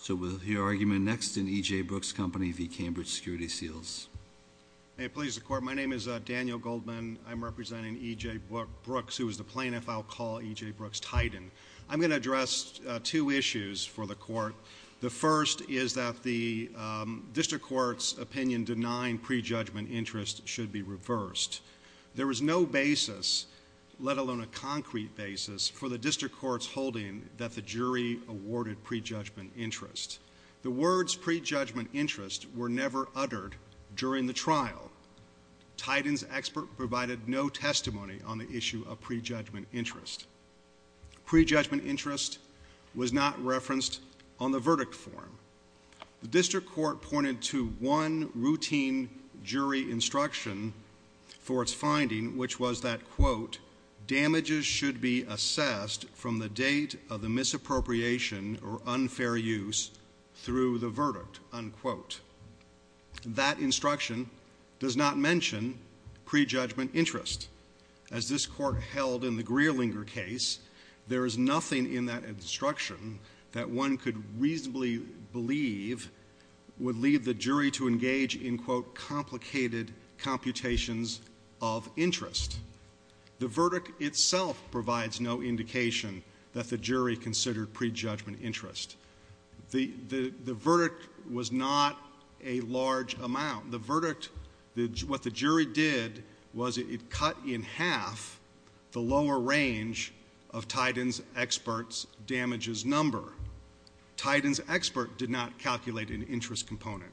So we'll hear argument next in E.J. Brooks Company v. Cambridge Security Seals. May it please the Court, my name is Daniel Goldman. I'm representing E.J. Brooks, who is the plaintiff. I'll call E.J. Brooks Titan. I'm going to address two issues for the Court. The first is that the District Court's opinion denying prejudgment interest should be reversed. There is no basis, let alone a concrete basis, for the District Court's holding that the interest. The words prejudgment interest were never uttered during the trial. Titan's expert provided no testimony on the issue of prejudgment interest. Prejudgment interest was not referenced on the verdict form. The District Court pointed to one routine jury instruction for its finding, which was that, quote, damages should be assessed from the date of the misappropriation or unfair use through the verdict, unquote. That instruction does not mention prejudgment interest. As this Court held in the Greerlinger case, there is nothing in that instruction that one could reasonably believe would lead the jury to engage in, quote, complicated computations of interest. The verdict itself provides no indication that the jury considered prejudgment interest. The verdict was not a large amount. The verdict, what the jury did was it cut in half the lower range of Titan's expert's damages number. Titan's expert did not calculate an interest component.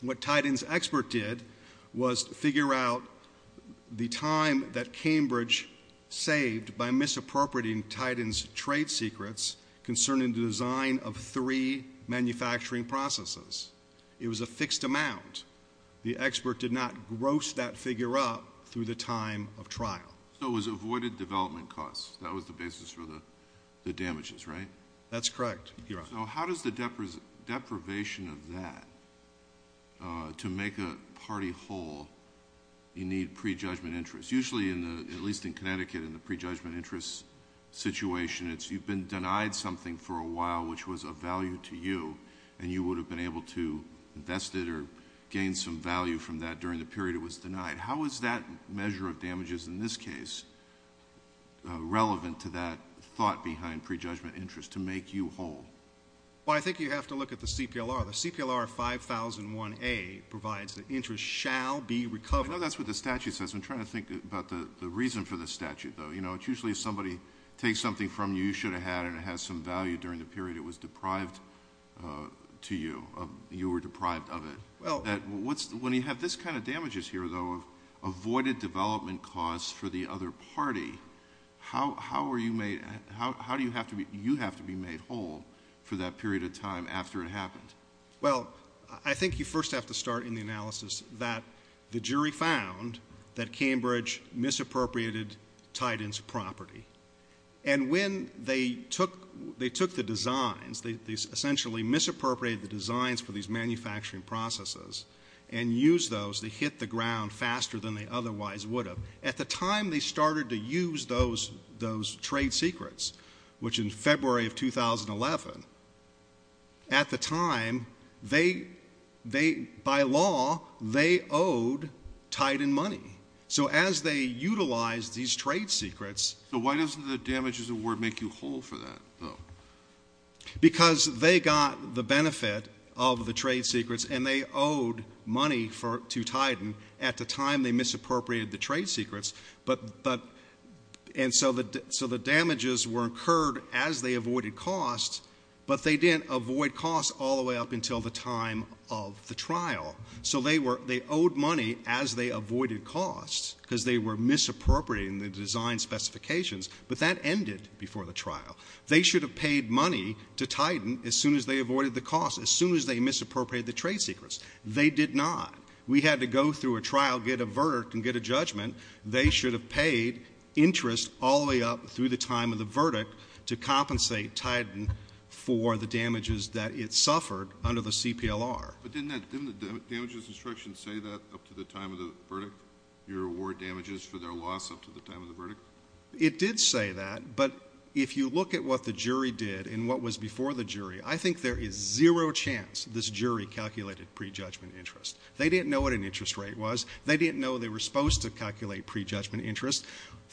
What Titan's expert did was figure out the time that Cambridge saved by misappropriating Titan's trade secrets concerning the design of three manufacturing processes. It was a fixed amount. The expert did not gross that figure up through the time of trial. So it was avoided development costs. That was the basis for the damages, right? That's correct, Your Honor. How does the deprivation of that, to make a party whole, you need prejudgment interest? Usually, at least in Connecticut, in the prejudgment interest situation, you've been denied something for a while which was of value to you, and you would have been able to invest it or gain some value from that during the period it was denied. How is that measure of damages in this case relevant to that thought behind prejudgment interest to make you whole? Well, I think you have to look at the CPLR. The CPLR 5001A provides that interest shall be recovered. I know that's what the statute says. I'm trying to think about the reason for the statute, though. It's usually if somebody takes something from you you should have had and it has some value during the period it was deprived to you, you were deprived of it. When you have this kind of damages here, though, of avoided development costs for the other party, how do you have to be made whole for that period of time after it happened? Well, I think you first have to start in the analysis that the jury found that Cambridge misappropriated Titan's property. And when they took the designs, they essentially misappropriated the designs for these manufacturing processes and used those to hit the ground faster than they otherwise would have. At the time they started to use those trade secrets, which in February of 2011, at the time they, by law, they owed Titan money. So as they utilized these trade secrets So why doesn't the damages award make you whole for that, though? Because they got the benefit of the trade secrets and they owed money to Titan at the time they misappropriated the trade secrets. And so the damages were incurred as they avoided costs, but they didn't avoid costs all the way up until the time of the trial. So they owed money as they avoided costs because they were misappropriating the design specifications, but that ended before the trial. They should have paid money to Titan as soon as they avoided the costs, as soon as they misappropriated the trade secrets. They did not. We had to go through a trial, get a verdict, and get a judgment. They should have paid interest all the way up through the time of the verdict to compensate Titan for the damages that it suffered under the CPLR. But didn't the damages instruction say that up to the time of the verdict, your award damages for their loss up to the time of the verdict? It did say that, but if you look at what the jury did and what was before the jury, I think there is zero chance this jury calculated prejudgment interest. They didn't know what an interest rate was. They didn't know they were supposed to calculate prejudgment interest.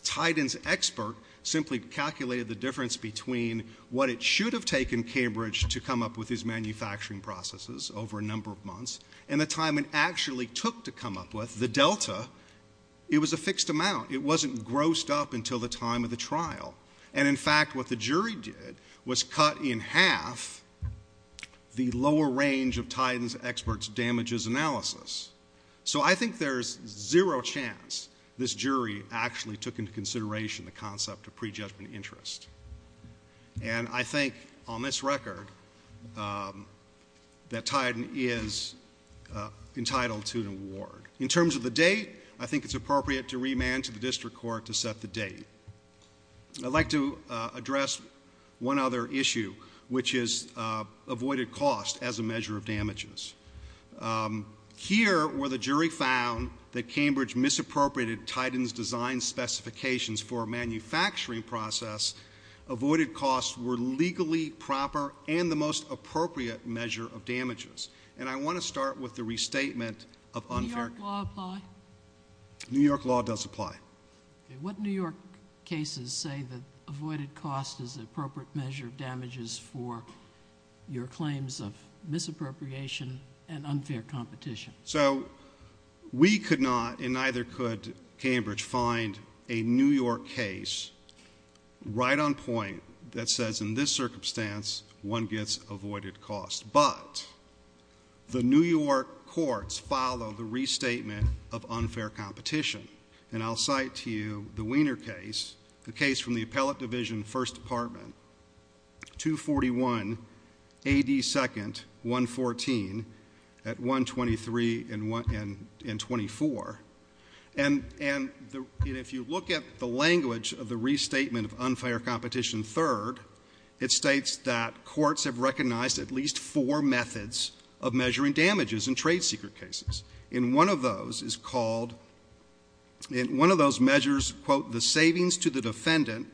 Titan's expert simply calculated the difference between what it should have taken Cambridge to come up with his manufacturing processes over a number of months and the time it actually took to come up with, the delta, it was a fixed amount. It wasn't grossed up until the time of the trial. And in fact, what the jury did was cut in half the lower range of Titan's expert's damages analysis. So I think there is zero chance this jury actually took into consideration the concept of prejudgment interest. And I think on this record that Titan is entitled to an award. In terms of the date, I think it's appropriate to remand to the district court to set the date. I'd like to address one other issue, which is avoided cost as a measure of damages. Here where the jury found that Cambridge misappropriated Titan's design specifications for a manufacturing process, avoided costs were legally proper and the most appropriate measure of damages. And I want to start with the restatement of unfair... Does New York law apply? New York law does apply. What New York cases say that avoided cost is the appropriate measure of damages for your claims of misappropriation and unfair competition? So we could not, and neither could Cambridge, find a New York case right on point that says in this circumstance one gets avoided cost. But the New York courts follow the restatement of unfair competition. And I'll cite to you the Wiener case, the case from the Appellate Division, First Department, 241 AD 2nd, 114, at 123,000. And if you look at the language of the restatement of unfair competition third, it states that courts have recognized at least four methods of measuring damages in trade secret cases. In one of those is called, in one of those measures, quote, the savings to the defendant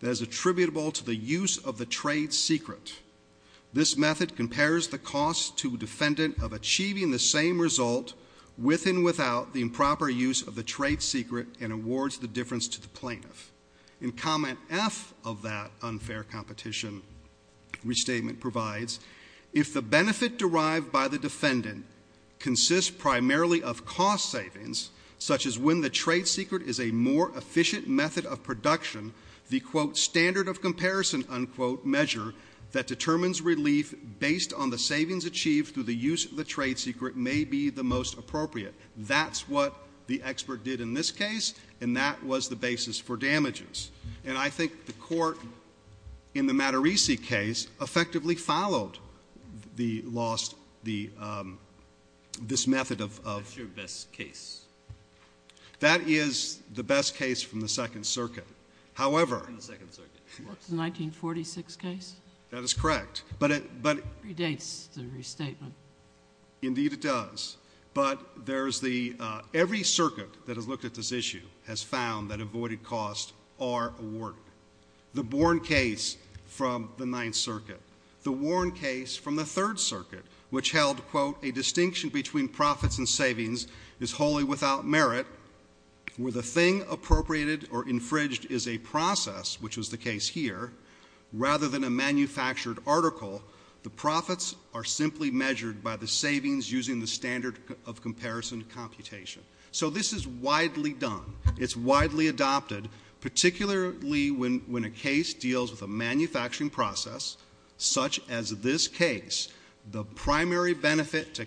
that is attributable to the use of the trade secret. This method compares the cost to defendant of achieving the same result with and without the improper use of the trade secret and awards the difference to the plaintiff. In comment F of that unfair competition restatement provides, if the benefit derived by the defendant consists primarily of cost savings, such as when the trade secret is a more efficient method of production, the, quote, standard of comparison, unquote, measure that determines relief based on the savings achieved through the use of the trade secret may be the most appropriate. That's what the expert did in this case, and that was the basis for damages. And I think the court in the Mattarisi case effectively followed the lost, the, this method of, of. That's your best case. That is the best case from the Second Circuit. However. From the Second Circuit. What's the 1946 case? That is correct. But it, but. It dates the restatement. Indeed it does. But there's the, every circuit that has looked at this issue has found that avoided costs are awarded. The Bourne case from the Ninth Circuit, the Warren case from the Third Circuit, which held, quote, a distinction between profits and savings is wholly without merit where the thing appropriated or infringed is a process, which was the case here, rather than a manufactured article, the profits are simply measured by the savings using the standard of comparison computation. So this is widely done. It's widely adopted, particularly when, when a case deals with a manufacturing process, such as this case, the primary benefit to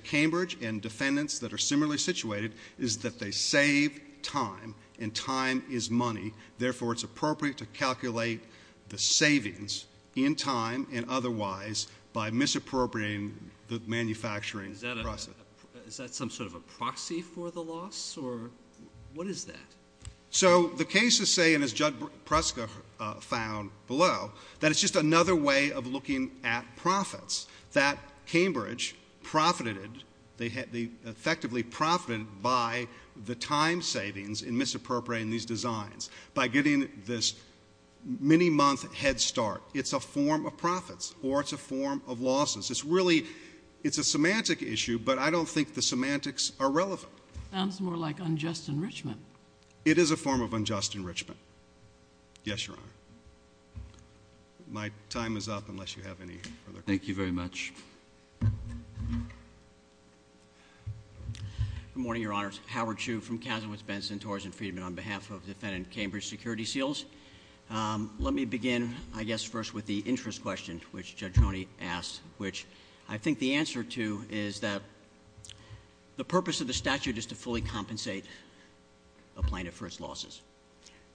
save time and time is money. Therefore, it's appropriate to calculate the savings in time and otherwise by misappropriating the manufacturing process. Is that a, is that some sort of a proxy for the loss or what is that? So the case is saying, as Judge Preska found below, that it's just another way of looking at profits, that Cambridge profited, they effectively profited by the time savings in misappropriating these designs, by getting this many month head start. It's a form of profits or it's a form of losses. It's really, it's a semantic issue, but I don't think the semantics are relevant. Sounds more like unjust enrichment. It is a form of unjust enrichment. Yes, Your Honor. My time is up, unless you have any further questions. Thank you very much. Good morning, Your Honors. Howard Chu from Kazimierz Benson Towers and Friedman on behalf of defendant Cambridge Security Seals. Let me begin, I guess, first with the interest question, which Judge Roney asked, which I think the answer to is that the purpose of the statute is to fully compensate a plaintiff for its losses.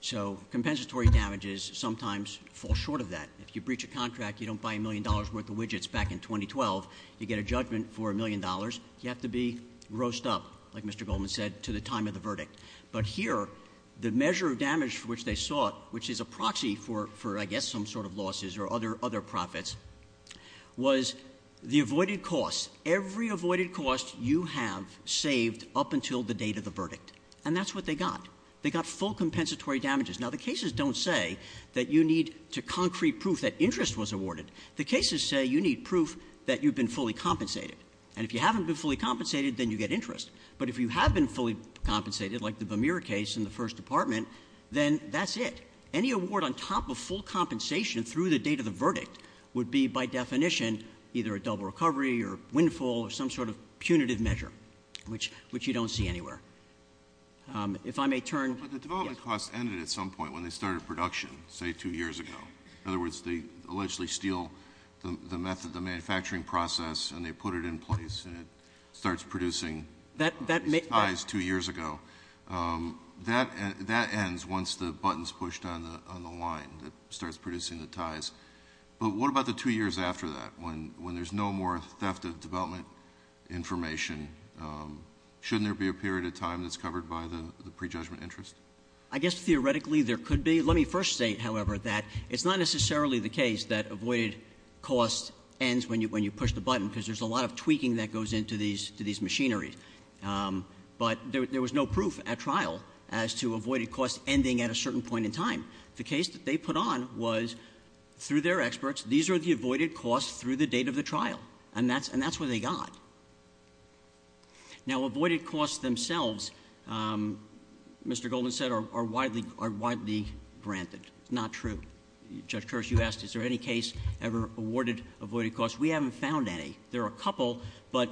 So compensatory damages sometimes fall short of that. If you breach a contract, you don't buy a million dollars worth of widgets back in 2012. You get a judgment for a million dollars. You have to be grossed up, like Mr. Goldman said, to the time of the verdict. But here, the measure of damage for which they sought, which is a proxy for, I guess, some sort of losses or other profits, was the avoided costs, every avoided cost you have saved up until the date of the verdict. And that's what they got. They got full compensatory damages. Now, the cases don't say that you need to concrete proof that interest was awarded. The cases say you need proof that you've been fully compensated. And if you haven't been fully compensated, then you get interest. But if you have been fully compensated, like the Vermeer case in the First Department, then that's it. Any award on top of full compensation through the date of the verdict would be, by definition, either a double recovery or windfall or some sort of punitive measure, which you don't see anywhere. If I may turn- But the development cost ended at some point when they started production, say two years ago. In other words, they allegedly steal the method, the manufacturing process, and they put it in place, and it starts producing these ties two years ago. That ends once the button's pushed on the line that starts producing the ties. But what about the two years after that, when there's no more theft of development information? Shouldn't there be a period of time that's covered by the prejudgment interest? I guess theoretically there could be. Let me first state, however, that it's not necessarily the case that avoided cost ends when you push the button, because there's a lot of tweaking that goes into these machineries. But there was no proof at trial as to avoided cost ending at a certain point in time. The case that they put on was, through their experts, these are the avoided costs through the date of the trial. And that's what they got. Now, avoided costs themselves, Mr. Goldman said, are widely granted. Not true. Judge Kerr, you asked, is there any case ever awarded avoided costs? We haven't found any. There are a couple, but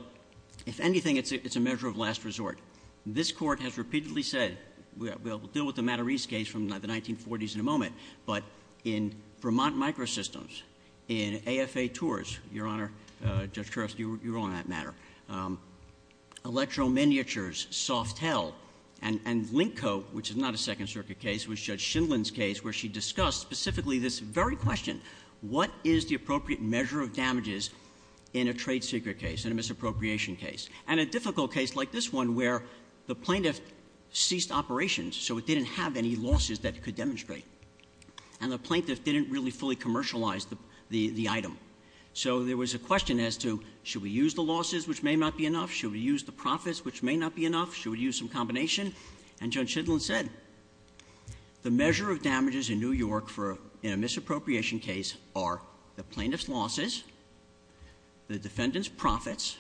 if anything, it's a measure of last resort. This court has repeatedly said, we'll deal with the Mattarese case from the 1940s in a moment. But in Vermont Microsystems, in AFA Tours, Your Honor, Judge Kerr, you were on that matter. Electro Miniatures, Softel, and Linko, which is not a Second Circuit case, was Judge Shindlin's case where she discussed specifically this very question. What is the appropriate measure of damages in a trade secret case, in a misappropriation case? And a difficult case like this one where the plaintiff ceased operations, so it didn't have any losses that it could demonstrate. And the plaintiff didn't really fully commercialize the item. So there was a question as to, should we use the losses, which may not be enough? Should we use the profits, which may not be enough? Should we use some combination? And Judge Shindlin said, the measure of damages in New York for a misappropriation case are the plaintiff's losses, the defendant's profits.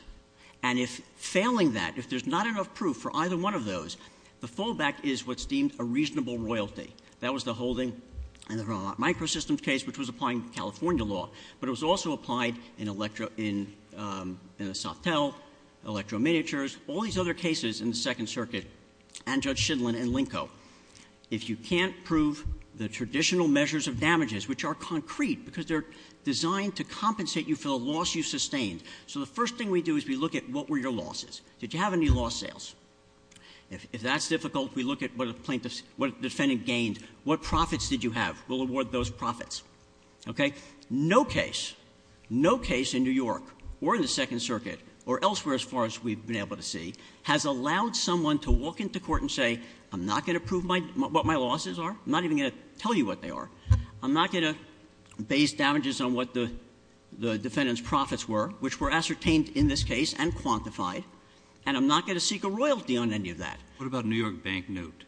And if failing that, if there's not enough proof for either one of those, the fallback is what's deemed a reasonable royalty. That was the holding in the Vermont Microsystems case, which was applying California law. But it was also applied in the Softel, Electro Miniatures, all these other cases in the Second Circuit, and Judge Shindlin and Linko. If you can't prove the traditional measures of damages, which are concrete, because they're designed to compensate you for the loss you sustained. So the first thing we do is we look at, what were your losses? Did you have any loss sales? If that's difficult, we look at what the defendant gained. What profits did you have? We'll award those profits, okay? No case, no case in New York or in the Second Circuit or elsewhere as far as we've been able to see, has allowed someone to walk into court and say, I'm not going to prove what my losses are. I'm not even going to tell you what they are. I'm not going to base damages on what the defendant's profits were, which were ascertained in this case and quantified. And I'm not going to seek a royalty on any of that. What about a New York bank note?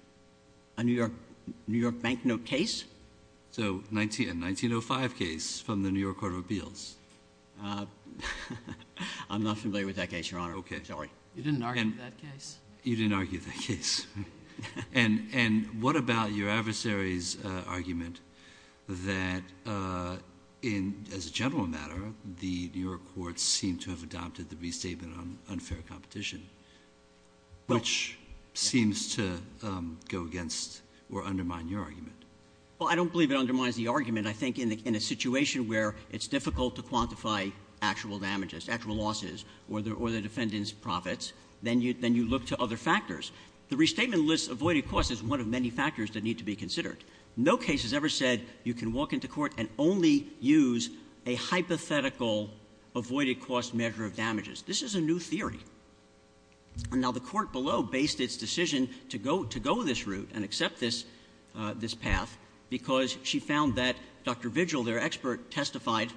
A New York bank note case? So, a 1905 case from the New York Court of Appeals. I'm not familiar with that case, Your Honor. Okay. Sorry. You didn't argue that case. You didn't argue that case. And what about your adversary's argument that, as a general matter, the New York courts seem to have adopted the restatement on unfair competition, which seems to go against or undermine your argument? Well, I don't believe it undermines the argument. I think in a situation where it's difficult to quantify actual damages, actual losses, or the defendant's profits, then you look to other factors. The restatement lists avoided costs as one of many factors that need to be considered. No case has ever said you can walk into court and only use a hypothetical avoided cost measure of damages. This is a new theory. And now the court below based its decision to go this route and accept this path because she found that Dr. Vigil, their expert, testified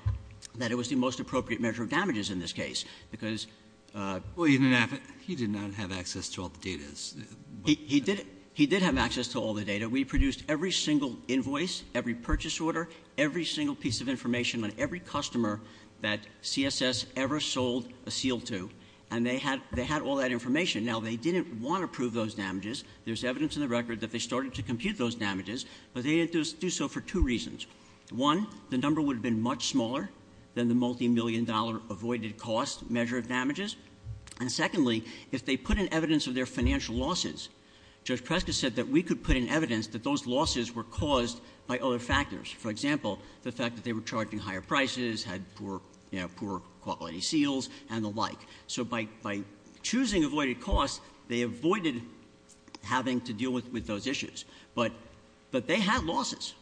that it was the most appropriate measure of damages in this case because- Well, he did not have access to all the data. He did have access to all the data. We produced every single invoice, every purchase order, every single piece of information on every customer that CSS ever sold a seal to. And they had all that information. Now, they didn't want to prove those damages. There's evidence in the record that they started to compute those damages, but they didn't do so for two reasons. One, the number would have been much smaller than the multi-million dollar avoided cost measure of damages. And secondly, if they put in evidence of their financial losses, Judge Prescott said that we could put in evidence that those losses were caused by other factors. For example, the fact that they were charging higher prices, had poor quality seals, and the like. So by choosing avoided costs, they avoided having to deal with those issues. But they had losses.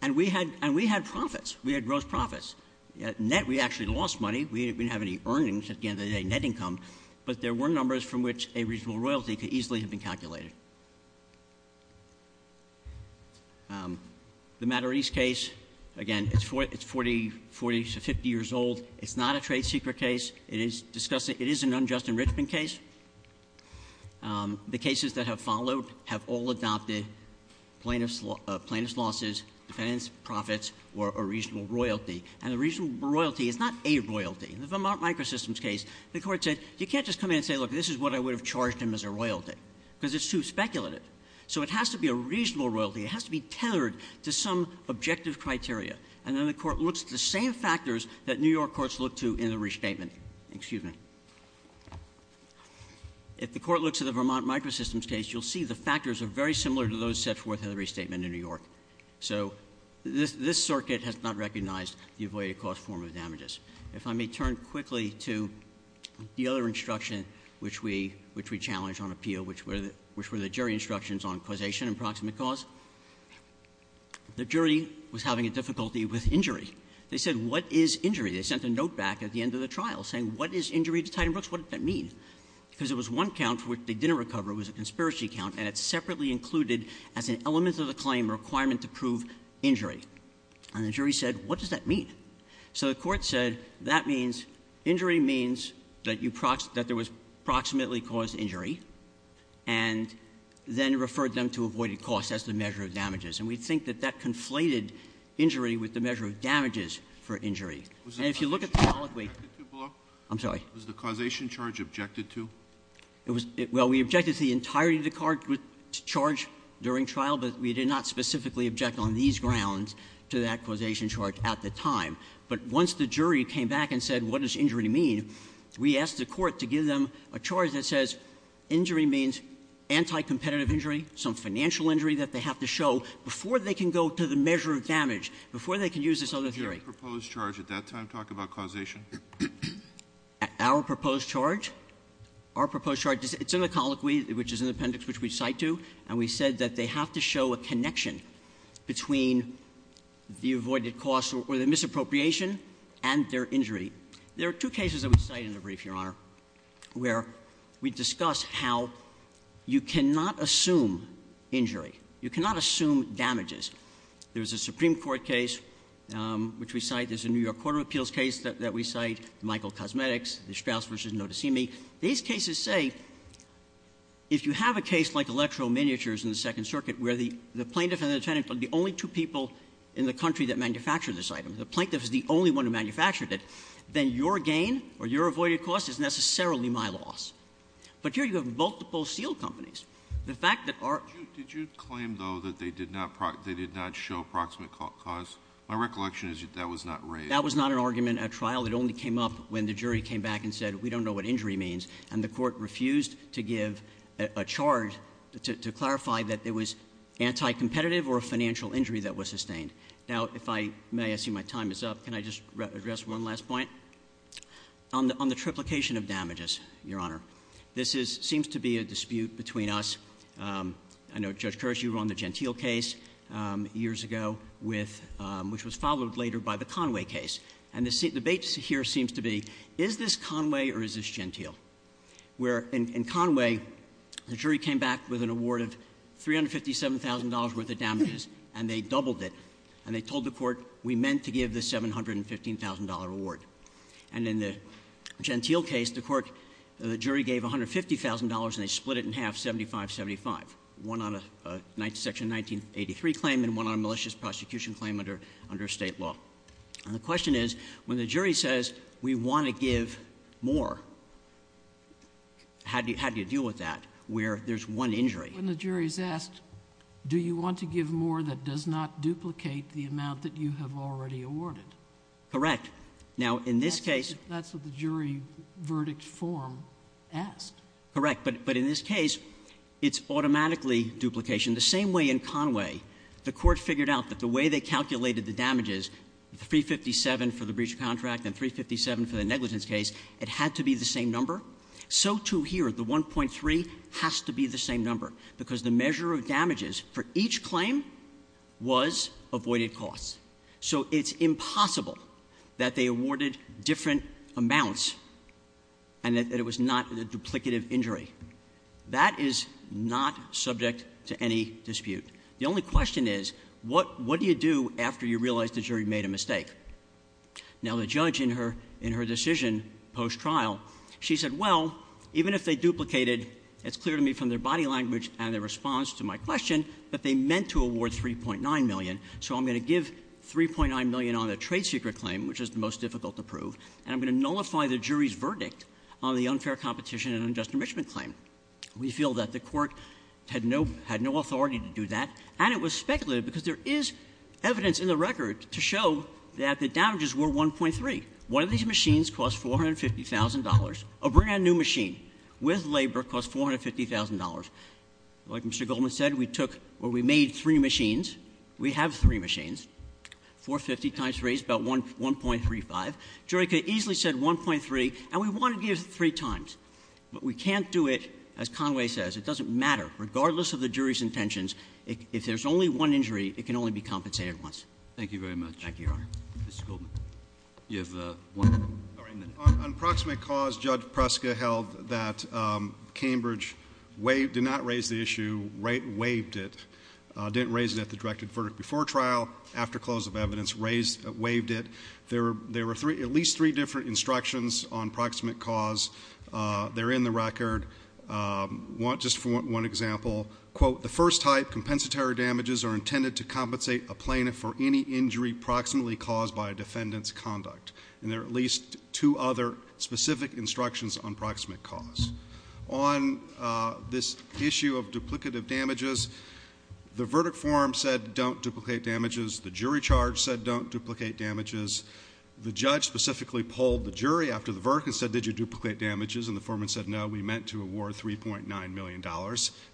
And we had profits. We had gross profits. At net, we actually lost money. We didn't have any earnings at the end of the day, net income. But there were numbers from which a reasonable royalty could easily have been calculated. The Mattarese case, again, it's 40 to 50 years old. It's not a trade secret case. It is an unjust enrichment case. The cases that have followed have all adopted plaintiff's losses, defendants' profits, or a reasonable royalty. And a reasonable royalty is not a royalty. In the Vermont Microsystems case, the court said, you can't just come in and say, look, this is what I would have charged him as a royalty. Because it's too speculative. So it has to be a reasonable royalty. It has to be tethered to some objective criteria. And then the court looks at the same factors that New York courts look to in a restatement. Excuse me. If the court looks at the Vermont Microsystems case, you'll see the factors are very similar to those set forth in the restatement in New York. So this circuit has not recognized the avoided cost form of damages. If I may turn quickly to the other instruction which we challenge on appeal, which were the jury instructions on causation and proximate cause. The jury was having a difficulty with injury. They said, what is injury? They sent a note back at the end of the trial saying, what is injury to Titan Brooks? What does that mean? Because it was one count for which they didn't recover. It was a conspiracy count, and it's separately included as an element of the claim requirement to prove injury. And the jury said, what does that mean? So the court said, that means, injury means that there was proximately caused injury. And then referred them to avoided cost as the measure of damages. And we think that that conflated injury with the measure of damages for injury. And if you look at the- I'm sorry. Was the causation charge objected to? Well, we objected to the entirety of the charge during trial, but we did not specifically object on these grounds to that causation charge at the time. But once the jury came back and said, what does injury mean? We asked the court to give them a charge that says, injury means anti-competitive injury, some financial injury that they have to show before they can go to the measure of damage, before they can use this other theory. Did your proposed charge at that time talk about causation? Our proposed charge, our proposed charge, it's in the colloquy, which is in the appendix which we cite to. And we said that they have to show a connection between the avoided cost or the misappropriation and their injury. There are two cases that we cite in the brief, Your Honor, where we discuss how you cannot assume injury. You cannot assume damages. There's a Supreme Court case which we cite. There's a New York Court of Appeals case that we cite, Michael Cosmetics, the Straus versus Notasimi. These cases say, if you have a case like Electro Miniatures in the Second Circuit, where the plaintiff and the defendant are the only two people in the country that manufactured this item, the plaintiff is the only one who manufactured it, then your gain or your avoided cost is necessarily my loss. But here you have multiple steel companies. The fact that our- They did not show approximate cost. My recollection is that was not raised. That was not an argument at trial. It only came up when the jury came back and said, we don't know what injury means. And the court refused to give a charge to clarify that it was anti-competitive or a financial injury that was sustained. Now, if I may, I see my time is up. Can I just address one last point? On the triplication of damages, Your Honor, this seems to be a dispute between us. I know, Judge Kerr, you run the Gentile case years ago, which was followed later by the Conway case. And the debate here seems to be, is this Conway or is this Gentile? Where in Conway, the jury came back with an award of $357,000 worth of damages, and they doubled it. And they told the court, we meant to give the $715,000 award. And in the Gentile case, the jury gave $150,000 and they split it in half, 75-75. One on a section 1983 claim and one on a malicious prosecution claim under state law. And the question is, when the jury says, we want to give more, how do you deal with that where there's one injury? When the jury's asked, do you want to give more that does not duplicate the amount that you have already awarded? Correct. Now, in this case- That's what the jury verdict form asked. Correct, but in this case, it's automatically duplication. The same way in Conway, the court figured out that the way they calculated the damages, $357,000 for the breach of contract and $357,000 for the negligence case, it had to be the same number. So too here, the 1.3 has to be the same number, because the measure of damages for each claim was avoided costs. So it's impossible that they awarded different amounts and that it was not a duplicative injury. That is not subject to any dispute. The only question is, what do you do after you realize the jury made a mistake? Now, the judge in her decision post-trial, she said, well, even if they duplicated, it's clear to me from their body language and their response to my question that they meant to award 3.9 million. So I'm going to give 3.9 million on the trade secret claim, which is the most difficult to prove. And I'm going to nullify the jury's verdict on the unfair competition and unjust enrichment claim. We feel that the court had no authority to do that. And it was speculative, because there is evidence in the record to show that the damages were 1.3. One of these machines cost $450,000, a brand new machine with labor cost $450,000. Like Mr. Goldman said, we took, or we made three machines, we have three machines. 450 times 3 is about 1.35. Jury could have easily said 1.3, and we want to give three times. But we can't do it, as Conway says, it doesn't matter, regardless of the jury's intentions, if there's only one injury, it can only be compensated once. Thank you very much. Thank you, Your Honor. Mr. Goldman, you have one minute. On proximate cause, Judge Preska held that Cambridge did not raise the issue, waived it. Didn't raise it at the directed verdict before trial, after close of evidence, waived it. There were at least three different instructions on proximate cause. They're in the record. Just for one example, quote, the first type, compensatory damages are intended to compensate a plaintiff for any injury proximately caused by a defendant's conduct. And there are at least two other specific instructions on proximate cause. On this issue of duplicative damages, the verdict forum said don't duplicate damages. The jury charge said don't duplicate damages. The judge specifically polled the jury after the verdict and said, did you duplicate damages? And the foreman said, no, we meant to award $3.9 million.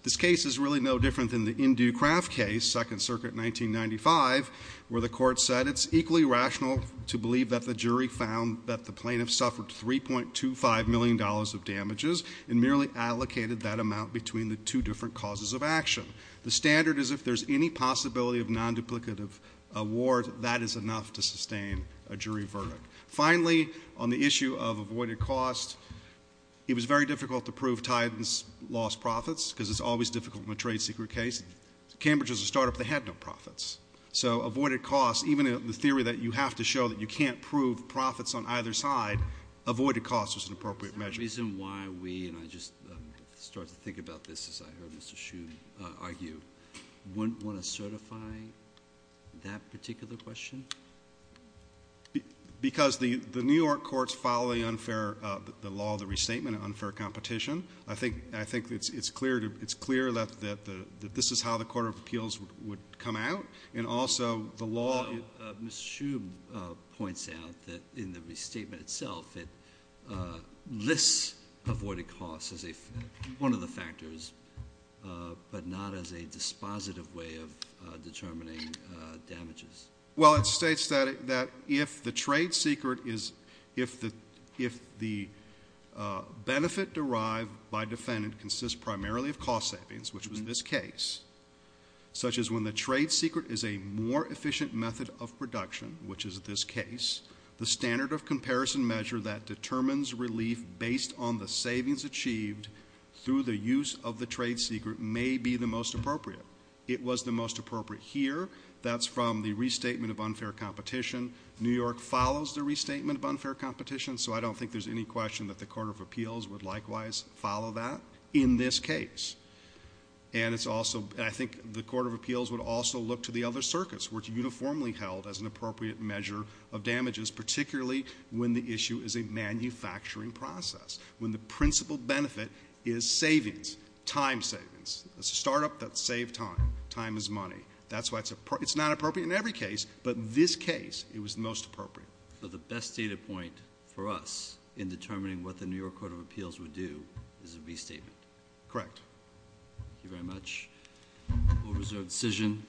This case is really no different than the Indue Craft case, Second Circuit 1995, where the court said it's equally rational to believe that the jury found that the plaintiff suffered $3.25 million of damages. And merely allocated that amount between the two different causes of action. The standard is if there's any possibility of non-duplicative award, that is enough to sustain a jury verdict. Finally, on the issue of avoided cost, it was very difficult to prove Tidens lost profits, because it's always difficult in a trade secret case. Cambridge is a startup that had no profits. So avoided cost, even in the theory that you have to show that you can't prove profits on either side, avoided cost was an appropriate measure. The reason why we, and I just start to think about this as I heard Mr. Hsu argue, wouldn't want to certify that particular question? Because the New York courts follow the law of the restatement of unfair competition. I think it's clear that this is how the Court of Appeals would come out. And also, the law- Mr. Hsu points out that in the restatement itself, it lists avoided cost as one of the factors, but not as a dispositive way of determining damages. Well, it states that if the trade secret is, if the benefit derived by defendant consists primarily of cost savings, which was this case, such as when the trade secret is a more efficient method of production, which is this case, the standard of comparison measure that determines relief based on the savings achieved through the use of the trade secret may be the most appropriate. It was the most appropriate here. That's from the restatement of unfair competition. New York follows the restatement of unfair competition, so I don't think there's any question that the Court of Appeals would likewise follow that in this case. And it's also, I think the Court of Appeals would also look to the other circuits, which uniformly held as an appropriate measure of damages, particularly when the issue is a manufacturing process. When the principal benefit is savings, time savings. It's a startup that saved time. Time is money. It's not appropriate in every case, but in this case, it was the most appropriate. So the best data point for us in determining what the New York Court of Appeals would do is a restatement. Correct. Thank you very much. We'll reserve the decision.